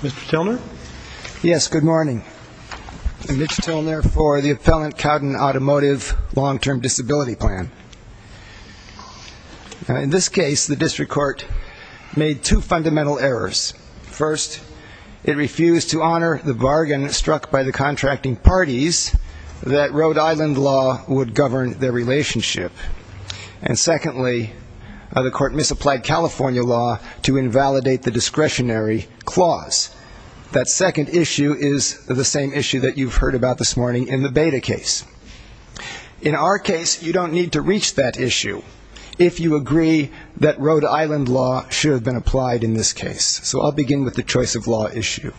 Mr. Tilner? Yes, good morning. I'm Mitch Tilner for the Appellant Cowden Automotive Long-Term Disability Plan. In this case, the district court made two fundamental errors. First, it refused to honor the bargain struck by the contracting parties that Rhode Island law would govern their relationship. And secondly, the court misapplied California law to invalidate the discretionary clause. That second issue is the same issue that you've heard about this morning in the Beda case. In our case, you don't need to reach that issue if you agree that Rhode Island law should have been applied in this case. So I'll begin with the choice of law issue.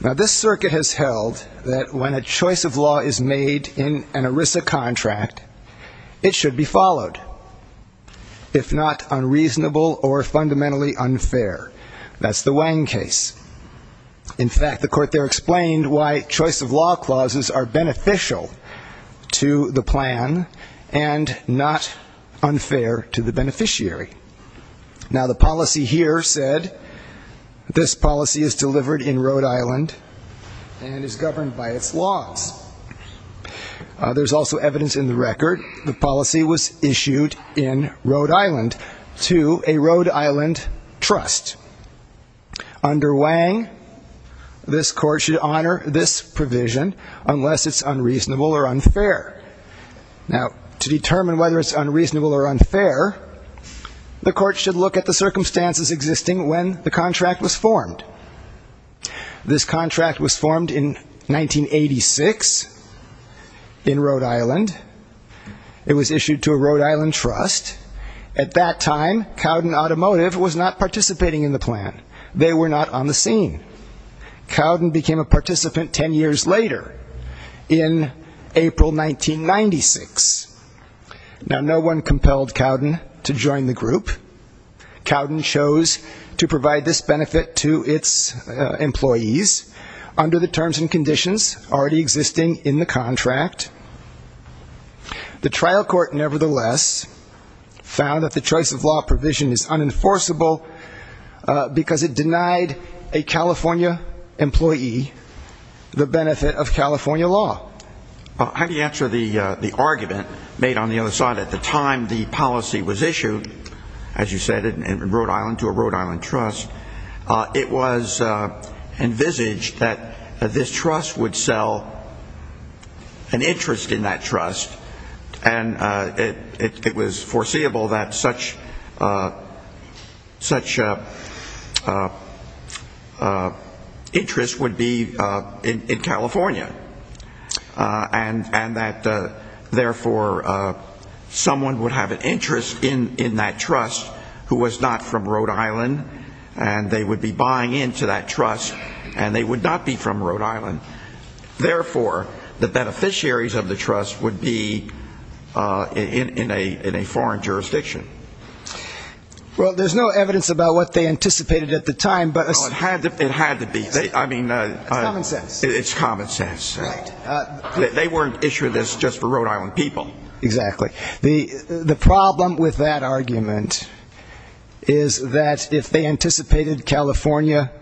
Now, this circuit has held that when a choice of law is made in an ERISA contract, it should be followed, if not unreasonable or fundamentally unfair. That's the Wang case. In fact, the court there explained why choice of law clauses are beneficial to the plan and not unfair to the beneficiary. Now, the policy here said this policy is delivered in Rhode Island and is governed by its laws. There's also evidence in the record the policy was issued in Rhode Island to a Rhode Island trust. Under Wang, this court should honor this provision unless it's unreasonable or unfair. Now, to determine whether it's unreasonable or unfair, the court should look at the circumstances existing when the contract was formed. This contract was formed in 1986 in Rhode Island. It was issued to a Rhode Island trust. At that time, Cowden Automotive was not participating in the plan. They were not on the scene. Cowden became a participant 10 years later in April 1996. Now, no one compelled Cowden to join the group. Cowden chose to provide this benefit to its employees under the terms and conditions already existing in the contract. The trial court nevertheless found that the choice of law provision is unenforceable because it argument made on the other side, at the time the policy was issued, as you said, in Rhode Island to a Rhode Island trust, it was envisaged that this trust would sell an interest in California and that, therefore, someone would have an interest in that trust who was not from Rhode Island, and they would be buying into that trust, and they would not be from Rhode Island. Therefore, the beneficiaries of the trust would be in a foreign jurisdiction. Well, there's no evidence about what they anticipated at the time, but it had to be. I mean, it's common sense. They weren't issuing this just for Rhode Island people. Exactly. The problem with that argument is that if they anticipated California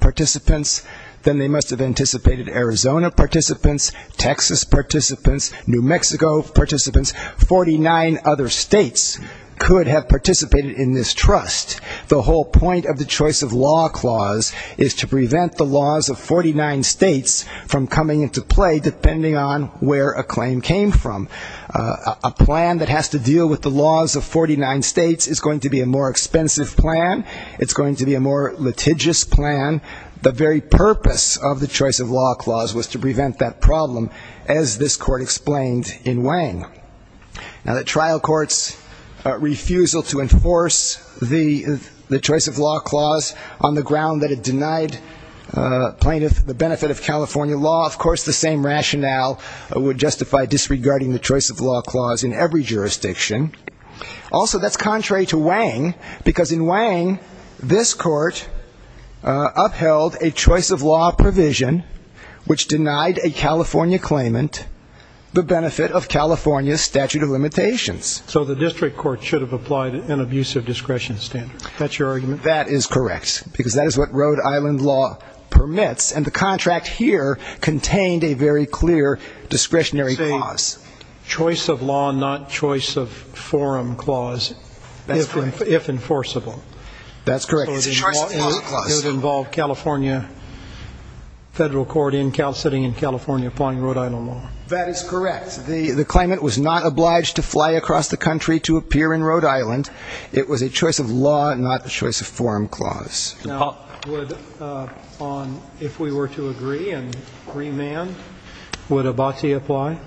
participants, then they must have anticipated Arizona participants, Texas participants, New Mexico participants, 49 other states could have participated in this trust. The whole point of the choice of law clause is to prevent the laws of 49 states from coming into play, depending on where a claim came from. A plan that has to deal with the laws of 49 states is going to be a more expensive plan. It's going to be a more litigious plan. The very purpose of the choice of law clause was to prevent that problem, as this court explained in Wang. Now, the trial court's refusal to enforce the choice of law clause on the ground that it denied plaintiff the benefit of California law, of course, the same rationale would justify disregarding the choice of law clause in every jurisdiction. Also, that's contrary to Wang, because in Wang, this is a choice of law provision which denied a California claimant the benefit of California statute of limitations. So the district court should have applied an abusive discretion standard. That's your argument? That is correct, because that is what Rhode Island law permits, and the contract here contained a very clear discretionary clause. Choice of law, not choice of forum clause, if enforceable. That's correct. It's a choice of law clause. It would involve California federal court in Cal City and California applying Rhode Island law. That is correct. The claimant was not obliged to fly across the country to appear in Rhode Island. It was a choice of law, not a choice of forum clause. Now, would, on, if we were to agree and remand, would Abati apply?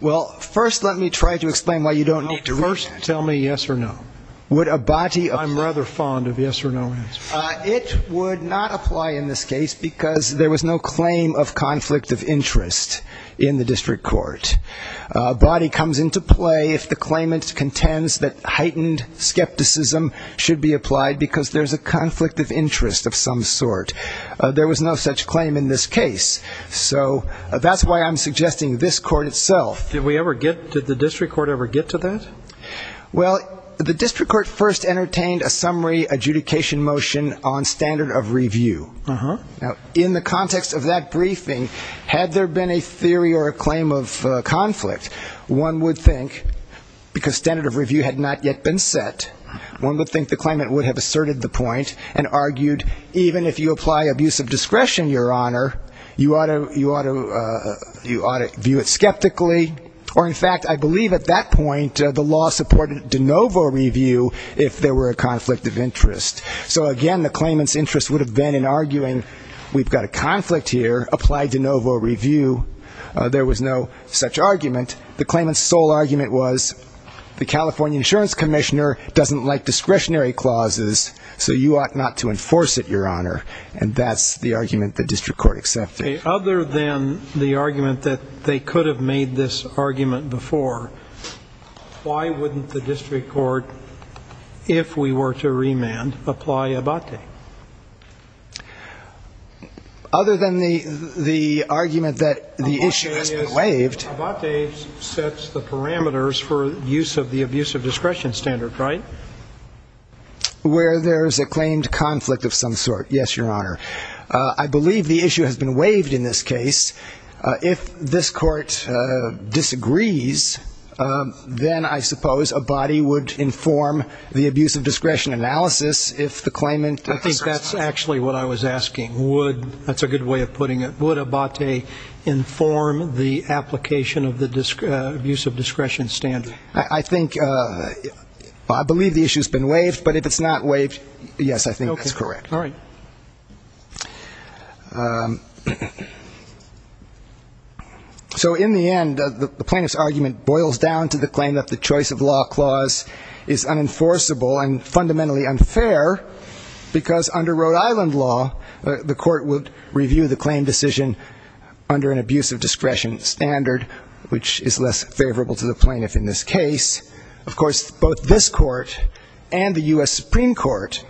Well, first let me try to explain why you don't need to read that. Well, first tell me yes or no. Would Abati apply? I'm rather fond of yes or no answers. It would not apply in this case because there was no claim of conflict of interest in the district court. Abati comes into play if the claimant contends that heightened skepticism should be applied because there's a conflict of interest of some sort. There was no such claim in this case. So that's why I'm suggesting this court itself. Did we ever get, did the district court ever get to that? Well, the district court first entertained a summary adjudication motion on standard of review. Now, in the context of that briefing, had there been a theory or a claim of conflict, one would think, because standard of review had not yet been set, one would think the claimant would have asserted the point and argued even if you apply abusive discretion, Your Honor, you ought to, you ought to, you ought to view it skeptically. Or in fact, I believe at that point, uh, the law supported de novo review if there were a conflict of interest. So again, the claimant's interest would have been in arguing, we've got a conflict here, apply de novo review. Uh, there was no such argument. The claimant's sole argument was the California insurance commissioner doesn't like discretionary clauses, so you ought not to enforce it, Your Honor. And that's the argument the district court accepted. Okay. Other than the argument that they could have made this argument before, why wouldn't the district court, if we were to remand, apply Abate? Other than the, the argument that the issue has been waived. Abate sets the parameters for use of the abusive discretion standard, right? Where there's a claimed conflict of some sort. Yes, Your Honor. Uh, I believe the issue has been waived in this case. Uh, if this court, uh, disagrees, um, then I suppose Abate would inform the abusive discretion analysis if the claimant. I think that's actually what I was asking. Would, that's a good way of putting it. Would Abate inform the application of the abuse of discretion standard? I think, uh, I believe the issue has been waived, but if it's not waived, yes, I think that's correct. All right. Um, so in the end, the, the plaintiff's argument boils down to the claim that the choice of law clause is unenforceable and fundamentally unfair because under Rhode Island law, the court would review the claim decision under an abusive discretion standard, which is less favorable to the plaintiff in this case. Of course, both this court and the U.S. Supreme Court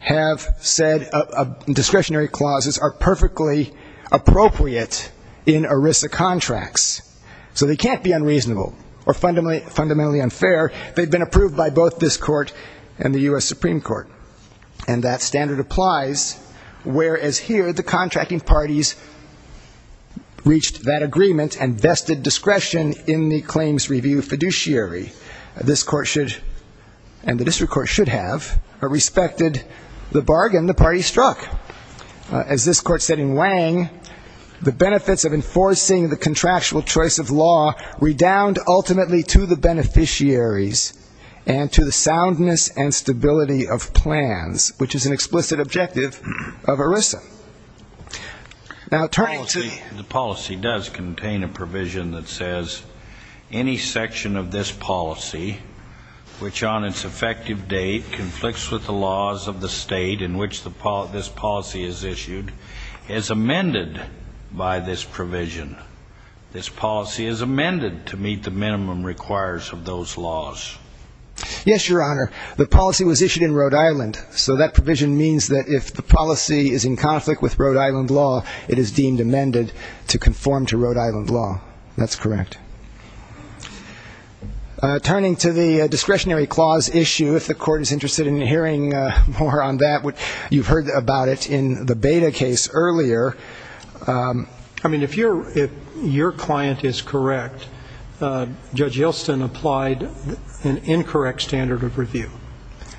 have said, uh, uh, discretionary clauses are perfectly appropriate in ERISA contracts. So they can't be unreasonable or fundamentally, fundamentally unfair. They've been approved by both this court and the U.S. Supreme Court. And that standard applies, whereas here, the contracting parties reached that agreement and vested discretion in the claims review fiduciary. This court should, and the district court should have, respected the bargain the party struck. As this court said in Wang, the benefits of enforcing the contractual choice of law redound ultimately to the beneficiaries and to the soundness and stability of plans, which is an explicit objective of ERISA. Now, turning to the policy does contain a provision that says any section of this policy, which on its effective date conflicts with the laws of the state in which the, this policy is issued, is amended by this provision. This policy is amended to meet the minimum requires of those laws. Yes, your honor. The policy was issued in Rhode Island, but if the policy is in conflict with Rhode Island law, it is deemed amended to conform to Rhode Island law. That's correct. Turning to the discretionary clause issue, if the court is interested in hearing more on that, you've heard about it in the Beda case earlier. I mean, if your, if your client is correct, Judge Yelston applied an incorrect standard of review.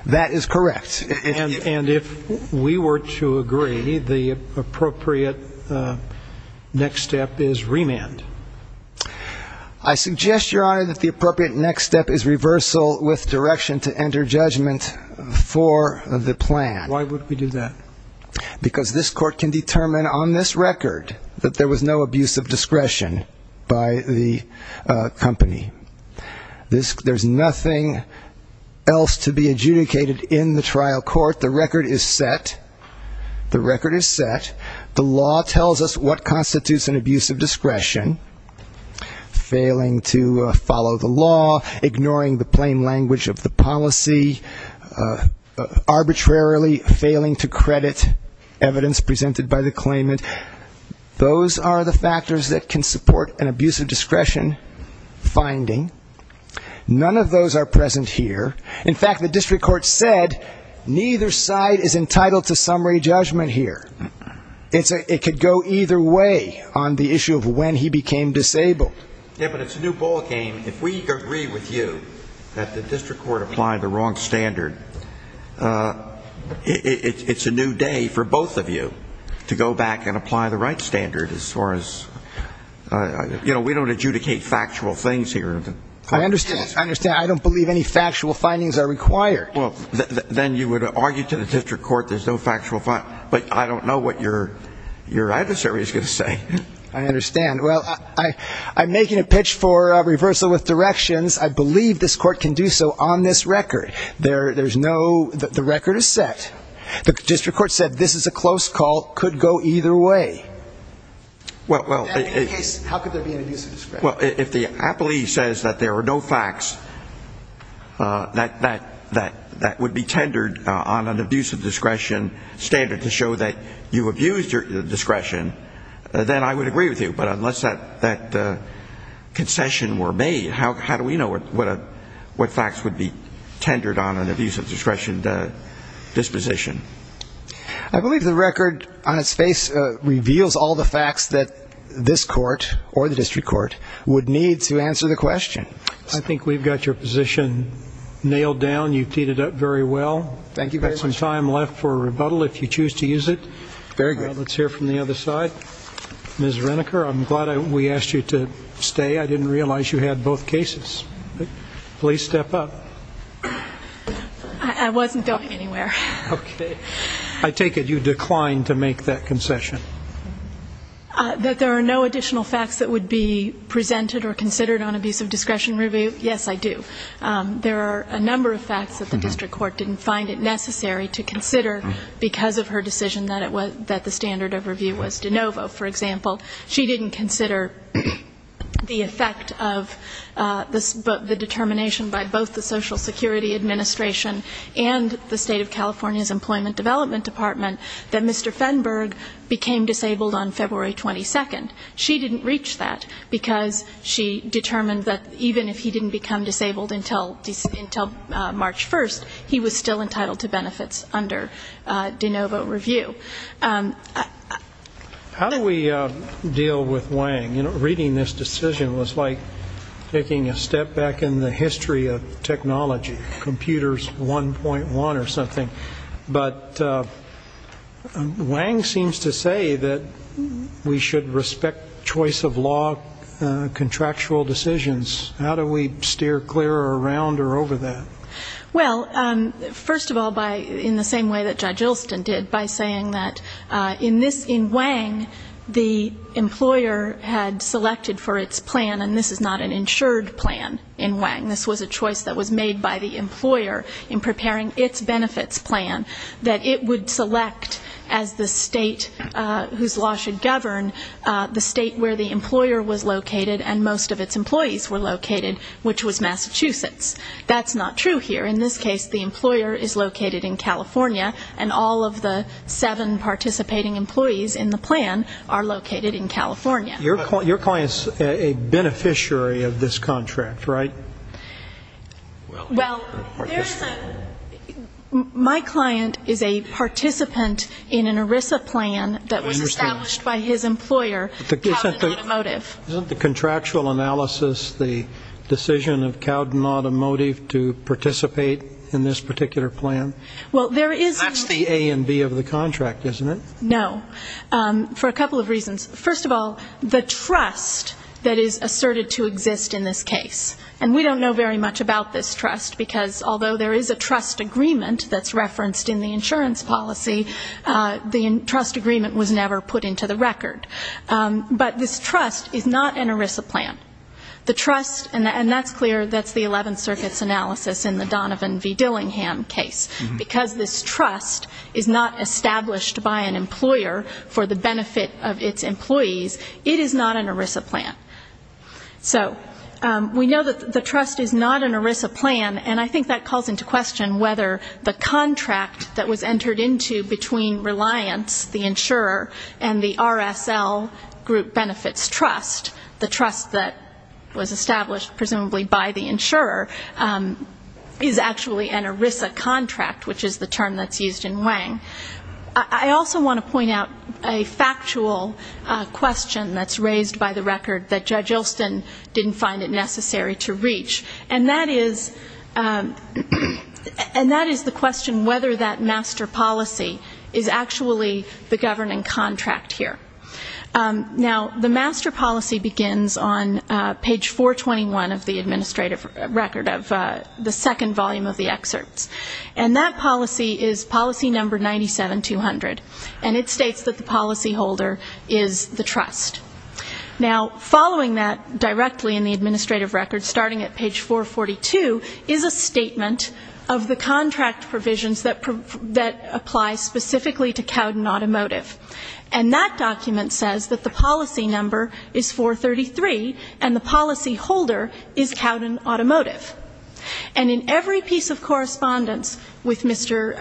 That is correct. And if we were to agree, the appropriate next step is remand. I suggest, your honor, that the appropriate next step is reversal with direction to enter judgment for the plan. Why would we do that? Because this court can determine on this record that there was no abuse of discretion by the company. There's nothing else to be adjudicated in the trial court. The record is set. The record is set. The law tells us what constitutes an abuse of discretion. Failing to follow the law, ignoring the plain language of the policy, arbitrarily failing to credit evidence presented by the claimant. Those are the factors that can support an abuse of discretion finding. None of those are present here. In fact, the district court said neither side is entitled to summary judgment here. It could go either way on the issue of when he became disabled. Yeah, but it's a new ball game. If we agree with you that the district court applied the wrong standard, it's a new day for both of you to go back and apply the right standard as far as, you know, we don't adjudicate factual things here. I understand. I understand. I don't believe any factual findings are required. Well, then you would argue to the district court there's no factual, but I don't know what your adversary is going to say. I understand. Well, I'm making a pitch for reversal with directions. I believe this court can do so on this record. There's no, the record is set. The district court said this is a close call, could go either way. Well, in any case, how could there be an abuse of discretion? Well, if the appellee says that there are no facts that would be tendered on an abuse of discretion standard to show that you abused your discretion, then I would agree with you. But unless that concession were made, how do we know what facts would be tendered on an abuse of discretion disposition? I believe the record on its face reveals all the facts that this court or the district court would need to answer the question. I think we've got your position nailed down. You've teed it up very well. Thank you very much. We've got some time left for rebuttal if you choose to use it. Very good. Let's hear from the other side. Ms. Reniker, I'm glad we asked you to stay. I didn't realize you had both cases. Please step up. I wasn't going anywhere. I take it you declined to make that concession? That there are no additional facts that would be presented or considered on abuse of discretion review, yes, I do. There are a number of facts that the district court didn't find it necessary to consider because of her decision that the standard of review was de novo, for example. She didn't consider the effect of the determination by both the Social Security Administration and the State of California's Employment Development Department that Mr. Fenberg became disabled on February 22nd. She didn't reach that because she determined that even if he didn't become disabled until March 1st, he was still entitled to benefits under de novo review. How do we deal with Wang? Reading this decision was like taking a step back in the history of technology, computers 1.1 or something. But Wang seems to say that we should respect choice of law, contractual decisions. How do we steer clear around or over that? Well, first of all, in the same way that Judge Ilston did, by saying that in this, in Wang, the employer had selected for its plan, and this is not an insured plan in Wang, this was a choice that was made by the employer in preparing its benefits plan, that it would select as the state whose law should govern the state where the employer was located and most of its employees were located, which was Massachusetts. That's not true here. In this case, the employer is located in California, and all of the seven participating employees in the plan are located in California. Your client's a beneficiary of this contract, right? Well, there's a, my client is a participant in an ERISA plan that was established by his employer. Is there a legal analysis, the decision of Cowden Automotive to participate in this particular plan? Well, there is a That's the A and B of the contract, isn't it? No. For a couple of reasons. First of all, the trust that is asserted to exist in this case, and we don't know very much about this trust, because although there is a trust agreement that's referenced in the insurance policy, the trust agreement was never put into the plan. The trust, and that's clear, that's the 11th Circuit's analysis in the Donovan v. Dillingham case. Because this trust is not established by an employer for the benefit of its employees, it is not an ERISA plan. So we know that the trust is not an ERISA plan, and I think that calls into question whether the contract that was entered into between Reliance, the insurer, and the RSL Group Benefits Trust, the trust that was established presumably by the insurer, is actually an ERISA contract, which is the term that's used in Wang. I also want to point out a factual question that's raised by the record that Judge Ilston didn't find it necessary to reach, and that is the question whether that master policy is actually the governing contract here. Now the master policy begins on page 421 of the administrative record of the second volume of the excerpts, and that policy is policy number 97200, and it states that the policy holder is the trust. Now following that directly in the administrative record, starting at Cowden Automotive, and that document says that the policy number is 433, and the policy holder is Cowden Automotive. And in every piece of correspondence with Mr.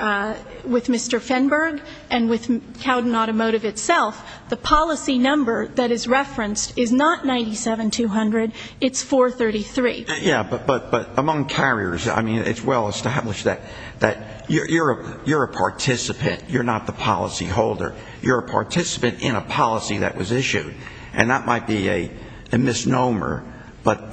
Fenberg and with Cowden Automotive itself, the policy number that is referenced is not 97200, it's 433. Yeah, but among carriers, I mean, it's well established that you're a participant, you're not the policy holder. You're a participant in a policy that was issued, and that might be a misnomer, but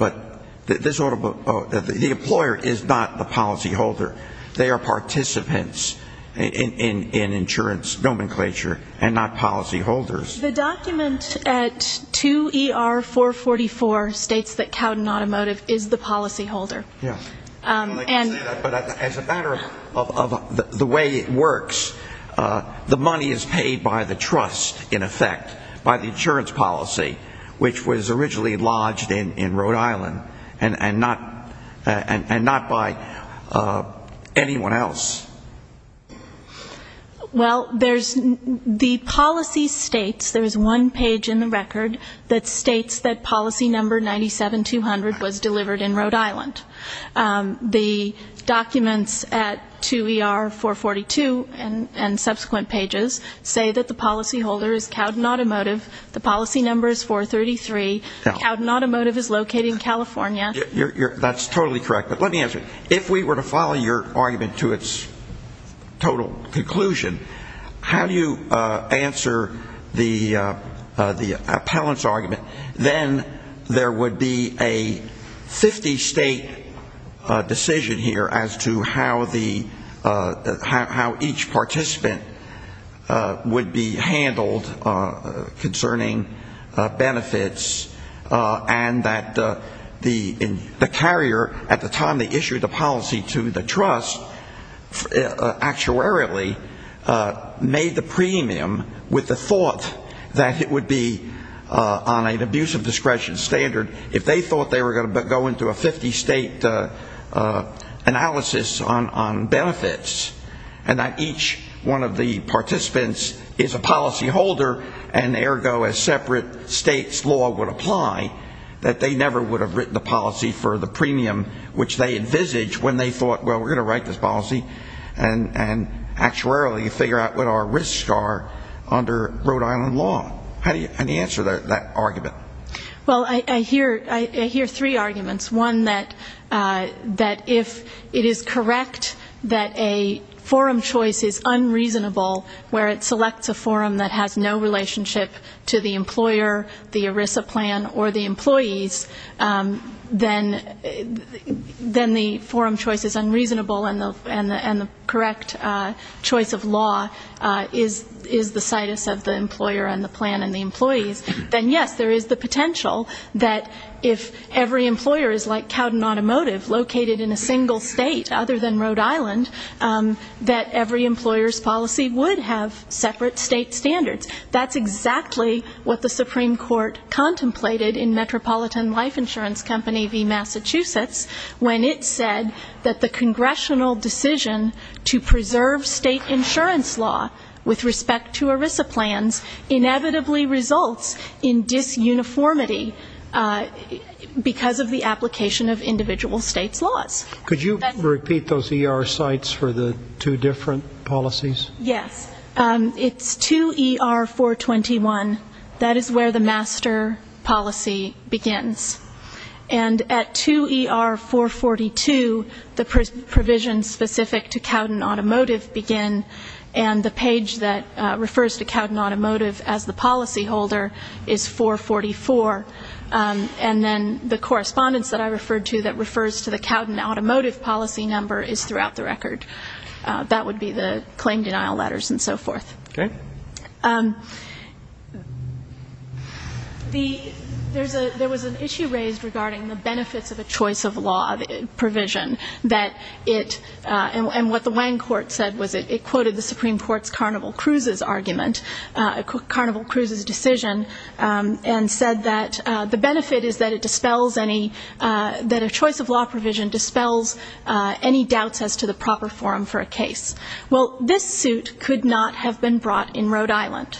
the employer is not the policy holder. They are participants in insurance nomenclature and not policy holders. The document at 2ER444 states that Cowden Automotive is the policy holder. Yeah. And I'd like to say that, but as a matter of the way it works, the money is paid by the trust, in effect, by the insurance policy, which was originally lodged in Rhode Island, and not by anyone else. Well, there's, the policy states, there's one page in the record that states that policy number 97200 was delivered in Rhode Island. The documents at 2ER442 and subsequent pages say that the policy holder is Cowden Automotive, the policy number is 433, Cowden Automotive is located in California. That's totally correct, but let me answer it. If we were to follow your argument to its total conclusion, how do you answer the appellant's argument, then there would be a 50-state decision here as to how the, how each participant would be handled concerning benefits, and that the carrier, at the time they issued the policy to the trust, actuarially made the premium with the thought that it would be on an abuse of discretion standard if they thought they were going to go into a 50-state analysis on benefits, and that each one of the participants is a policy holder, and ergo a separate state's law would apply, that they never would have written the policy for the premium which they envisaged when they thought, well, we're going to write this policy and actuarially figure out what our risks are under Rhode Island law. How do you answer that argument? Well, I hear three arguments. One, that if it is correct that a forum choice is unreasonable where it selects a forum that has no relationship to the employer, the ERISA plan, or the employees, then the forum choice is unreasonable and the correct choice of law is the situs of the employer and the plan and the employees, then yes, there is the potential that if every employer is like Cowden Automotive, located in a single state other than Rhode Island, that every employer's policy would have separate state standards. That's exactly what the Supreme Court contemplated in Metropolitan Life Insurance Company v. Massachusetts when it said that the congressional decision to preserve state insurance law with respect to ERISA plans inevitably results in disuniformity because of the application of individual states' laws. Could you repeat those ER sites for the two different policies? Yes. It's 2ER-421. That is where the master policy begins. And at 2ER-442, the provisions specific to Cowden Automotive begin and the page that refers to Cowden Automotive as the policy holder is 444. And then the correspondence that I referred to that refers to the Cowden There was an issue raised regarding the benefits of a choice of law provision and what the Wang Court said was it quoted the Supreme Court's Carnival Cruises argument, Carnival Cruises' decision, and said that the benefit is that a choice of law provision dispels any doubts as to the proper forum for a case. Well, this suit could not have been brought in Rhode Island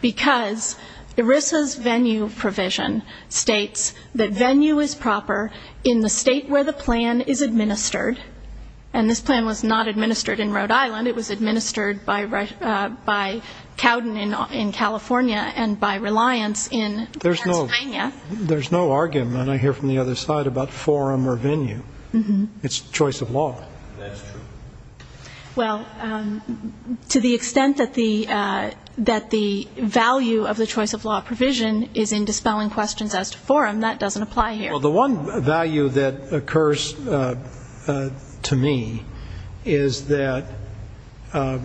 because ERISA's venue provision states that venue is proper in the state where the plan is administered. And this plan was not administered in Rhode Island. It was administered by Cowden in California and by Reliance in Pennsylvania. There's no argument, I hear from the other side, about forum or venue. It's choice of law. Well, to the extent that the value of the choice of law provision is in dispelling questions as to forum, that doesn't apply here. The one value that occurs to me is that a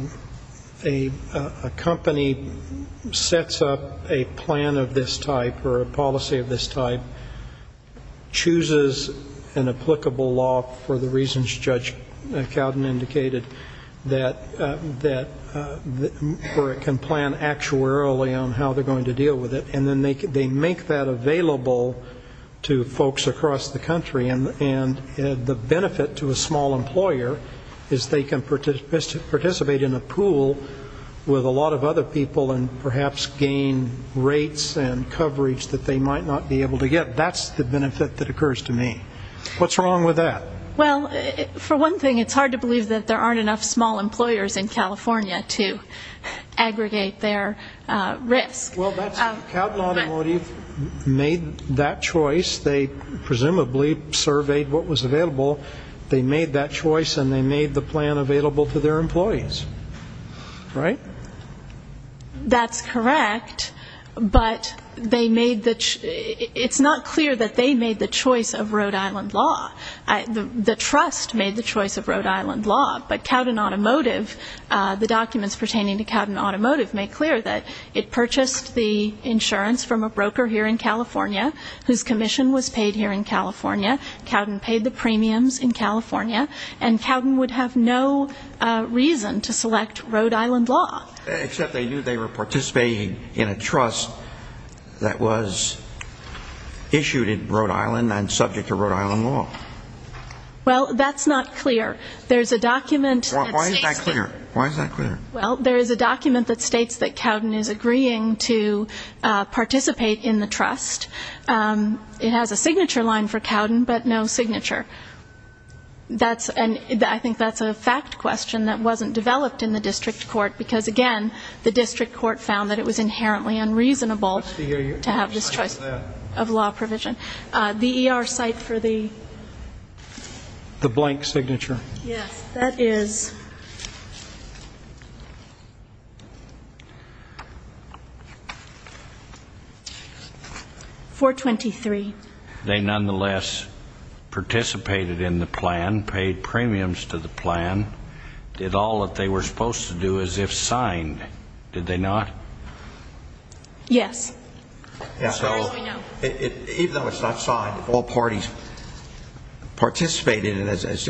company sets up a plan of this type or a policy of this type, chooses an applicable law for the reasons Judge Cowden indicated, that can plan actuarially on how they're going to deal with it, and then they make that available to folks across the country. And the benefit to a small employer is they can participate in a pool with a lot of other people and perhaps gain rates and coverage that they might not be able to get. That's the benefit that occurs to me. What's wrong with that? Well, for one thing, it's hard to believe that there aren't enough small employers in California to aggregate their risk. Well, Cowden Automotive made that choice. They presumably surveyed what was available. They made that choice and they made the plan available to their employees, right? That's correct, but they made the, it's not clear that they made the choice of Rhode Island law. The trust made the choice of Rhode Island law, but Cowden Automotive, the documents pertaining to Cowden Automotive make clear that it purchased the insurance from a broker here in California whose commission was paid here in California. Cowden paid the premiums in California, and Cowden would have no reason to select Rhode Island law. Except they knew they were participating in a trust that was issued in Rhode Island and subject to Rhode Island law. Well, that's not clear. There's a document that states that Cowden is agreeing to participate in the trust. It has a signature line for Cowden, but no signature. That's, I think that's a fact question that wasn't developed in the district court, because again, the district court found that it was inherently unreasonable to have this choice of law provision. The ER site for the The blank signature. Yes, that is 423. They nonetheless participated in the plan, paid premiums to the plan, did all that they were supposed to do as if signed, did they not? Yes. As far as we know. Even though it's not signed, all parties participated in it as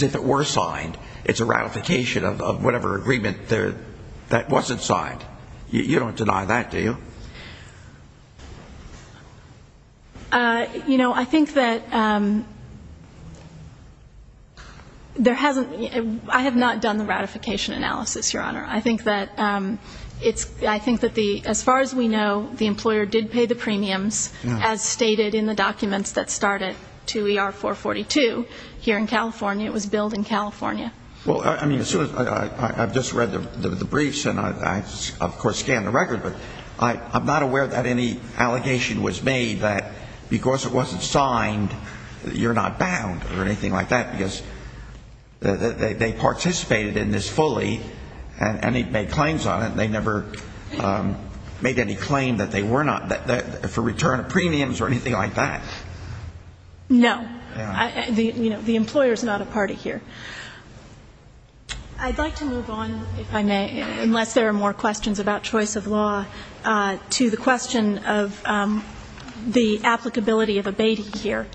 if it were signed. It's a ratification of whatever agreement that wasn't signed. You don't deny that, do you? You know, I think that there hasn't, I have not done the ratification analysis, Your Honor. I think that it's, I think that the, as far as we know, the employer did pay the premiums as stated in the documents that start at 2ER442 here in California. It was billed in California. Well, I mean, as soon as, I've just read the briefs and I, of course, scanned the record, but I'm not aware that any allegation was made that because it wasn't signed, you're not bound or anything like that because they participated in this fully and they made claims on it and they never made any claim that they were not, for return of premiums or anything like that. No. Yeah. You know, the employer is not a party here. I'd like to move on, if I may, unless there are more questions about choice of law, to the question of the applicability of abating here.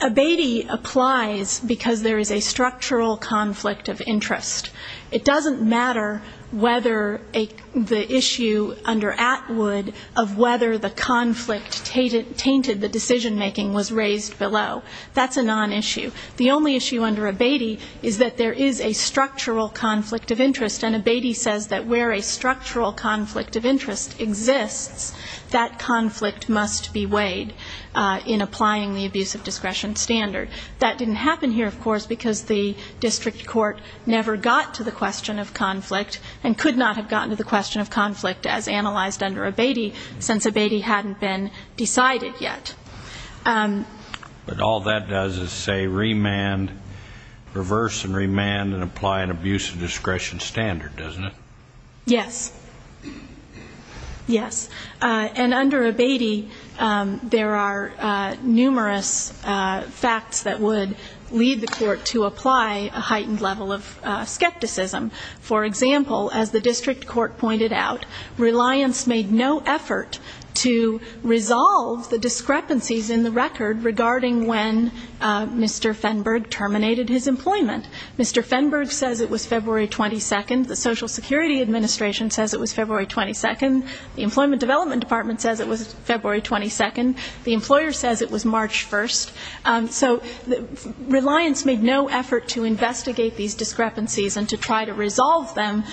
Abating applies because there is a structural conflict of interest. It doesn't matter whether the issue under Atwood of whether the conflict tainted the decision making was raised below. That's a non-issue. The only issue under abating is that there is a structural conflict of interest, and abating says that where a structural conflict of interest exists, that conflict must be weighed in applying the abuse of discretion standard. That didn't happen here, of course, because the district court never got to the question of conflict and could not have gotten to the question of conflict as analyzed under abating since abating hadn't been decided yet. But all that does is say remand, reverse and remand and apply an abuse of discretion standard, doesn't it? Yes. Yes. And under abating, there are numerous facts that would lead the court to apply a heightened level of skepticism. For example, as the district court pointed out, reliance made no effort to resolve the discrepancies in the record regarding when Mr. Fenberg terminated his employment. Mr. Fenberg says it was February 22nd. The Social Security Administration says it was February 22nd. The Employment Development Department says it was February 22nd. The employer says it was March 1st. So reliance made no effort to investigate these discrepancies and to try to resolve them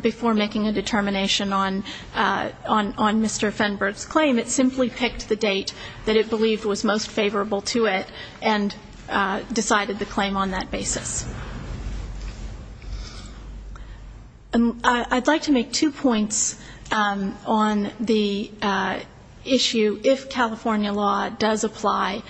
before making a determination on Mr. Fenberg's claim. It simply picked the date that it believed was most favorable to it and decided the claim on that basis. And I'd like to make two points on the issue, if California law does apply,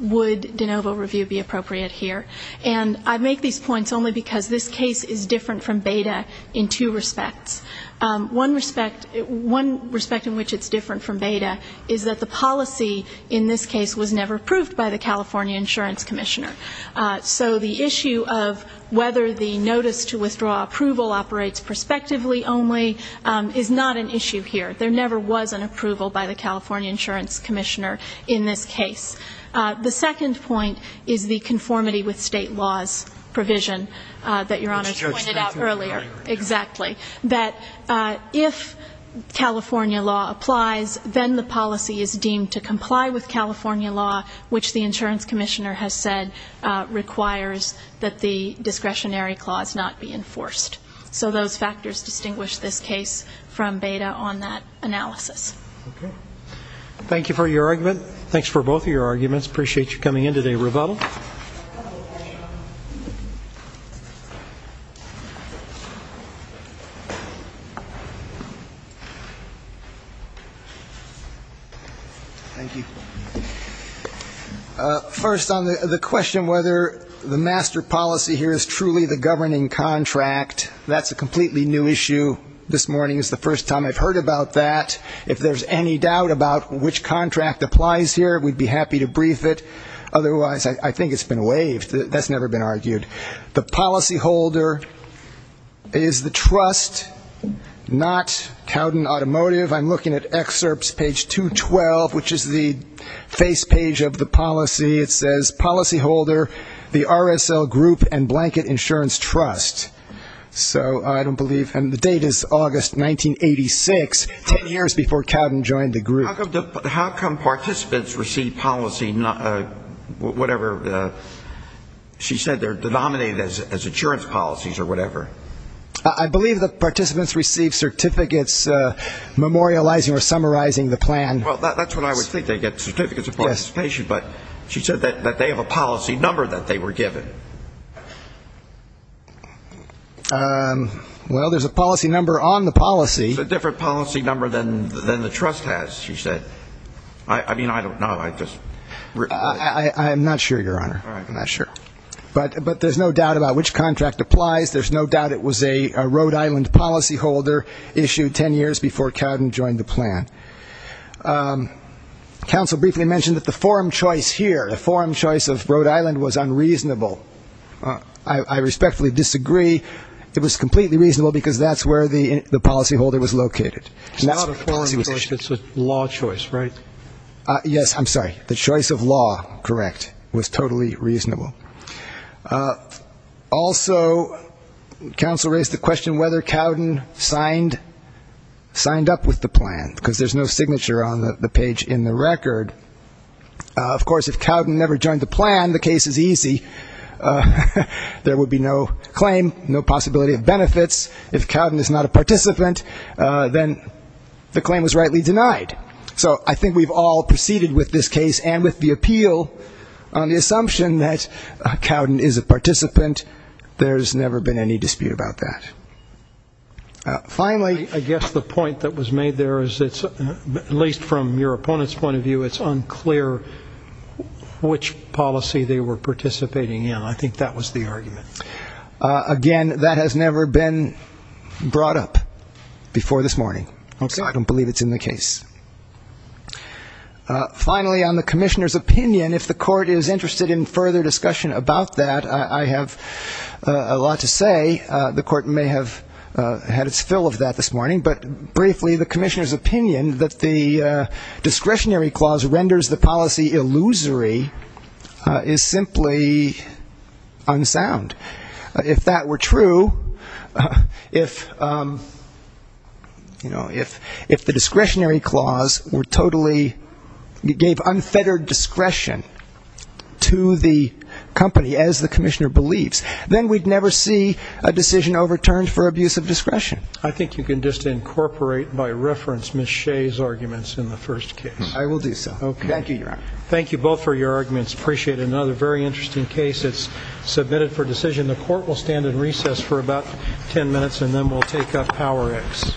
would de novo review be appropriate here? And I make these points only because this case is different from Beda in two respects. One respect, one respect in which it's different from Beda is that the policy in this case was never approved by the California Insurance Commissioner. So the issue of whether the notice to withdraw approval operates prospectively only is not an issue here. There never was an approval by the California Insurance Commissioner in this case. The second point is the conformity with state laws provision that Your Honor just pointed out earlier. Exactly. That if California law applies, then the policy is deemed to comply with California law, which the insurance commissioner has said requires that the discretionary clause not be enforced. So those factors distinguish this case from Beda on that analysis. Thank you for your argument. Thanks for both of your arguments. Appreciate you coming in today. Rebuttal. Thank you. First on the question whether the master policy here is truly the governing contract, that's a completely new issue. This morning is the first time I've heard about that. If there's any doubt about which contract applies here, we'd be happy to brief it. Otherwise, I think it's been waived. That's never been argued. The policyholder is the trust, not Cowden Automotive. I'm looking at excerpts, page 212, which is the face page of the policy. It says, policyholder, the RSL Group and Blanket Insurance Trust. So I don't believe the date is August 1986, ten years before Cowden joined the group. How come participants receive policy, whatever she said, they're denominated as insurance policies or whatever? I believe the participants receive certificates memorializing or summarizing the plan. Well, that's what I would think. They get certificates of participation, but she said that they have a policy number that they were given. Well, there's a policy number on the policy. It's a different policy number than the trust has, she said. I mean, I don't know. I'm not sure, Your Honor. I'm not sure. But there's no doubt about which contract applies. There's no doubt it was a Rhode Island policyholder issued ten years before Cowden joined the plan. Counsel briefly mentioned that the forum choice here, the forum choice of Rhode Island was unreasonable. I respectfully disagree. It was completely reasonable because that's where the policyholder was located. It's not a forum choice. It's a law choice, right? Yes, I'm sorry. The choice of law, correct, was totally reasonable. Also, counsel raised the question whether Cowden signed up with the plan because there's no signature on the page in the record. Of course, if Cowden never joined the plan, the case is easy. There would be no claim, no possibility of benefits. If Cowden is not a participant, then the claim was rightly denied. So I think we've all proceeded with this case and with the appeal on the assumption that Cowden is a participant. There's never been any dispute about that. Finally, I guess the point that was made there is, at least from your opponent's point of view, it's unclear which policy they were participating in. I think that was the argument. Again, that has never been brought up before this morning. So I don't believe it's in the case. Finally, on the commissioner's opinion, if the court is interested in further discussion about that, I have a lot to say. The court may have had its fill of that this morning. But briefly, the commissioner's opinion that the discretionary clause renders the policy illusory is simply unsound. If that were true, if the discretionary clause gave unfettered discretion to the company, as the commissioner believes, then we'd never see a decision overturned for abuse of discretion. I think you can just incorporate, by reference, Ms. Shea's arguments in the first case. I will do so. Thank you, Your Honor. Thank you both for your arguments. I appreciate it. Another very interesting case that's submitted for decision. The court will stand in recess for about 10 minutes, and then we'll take up PowerX.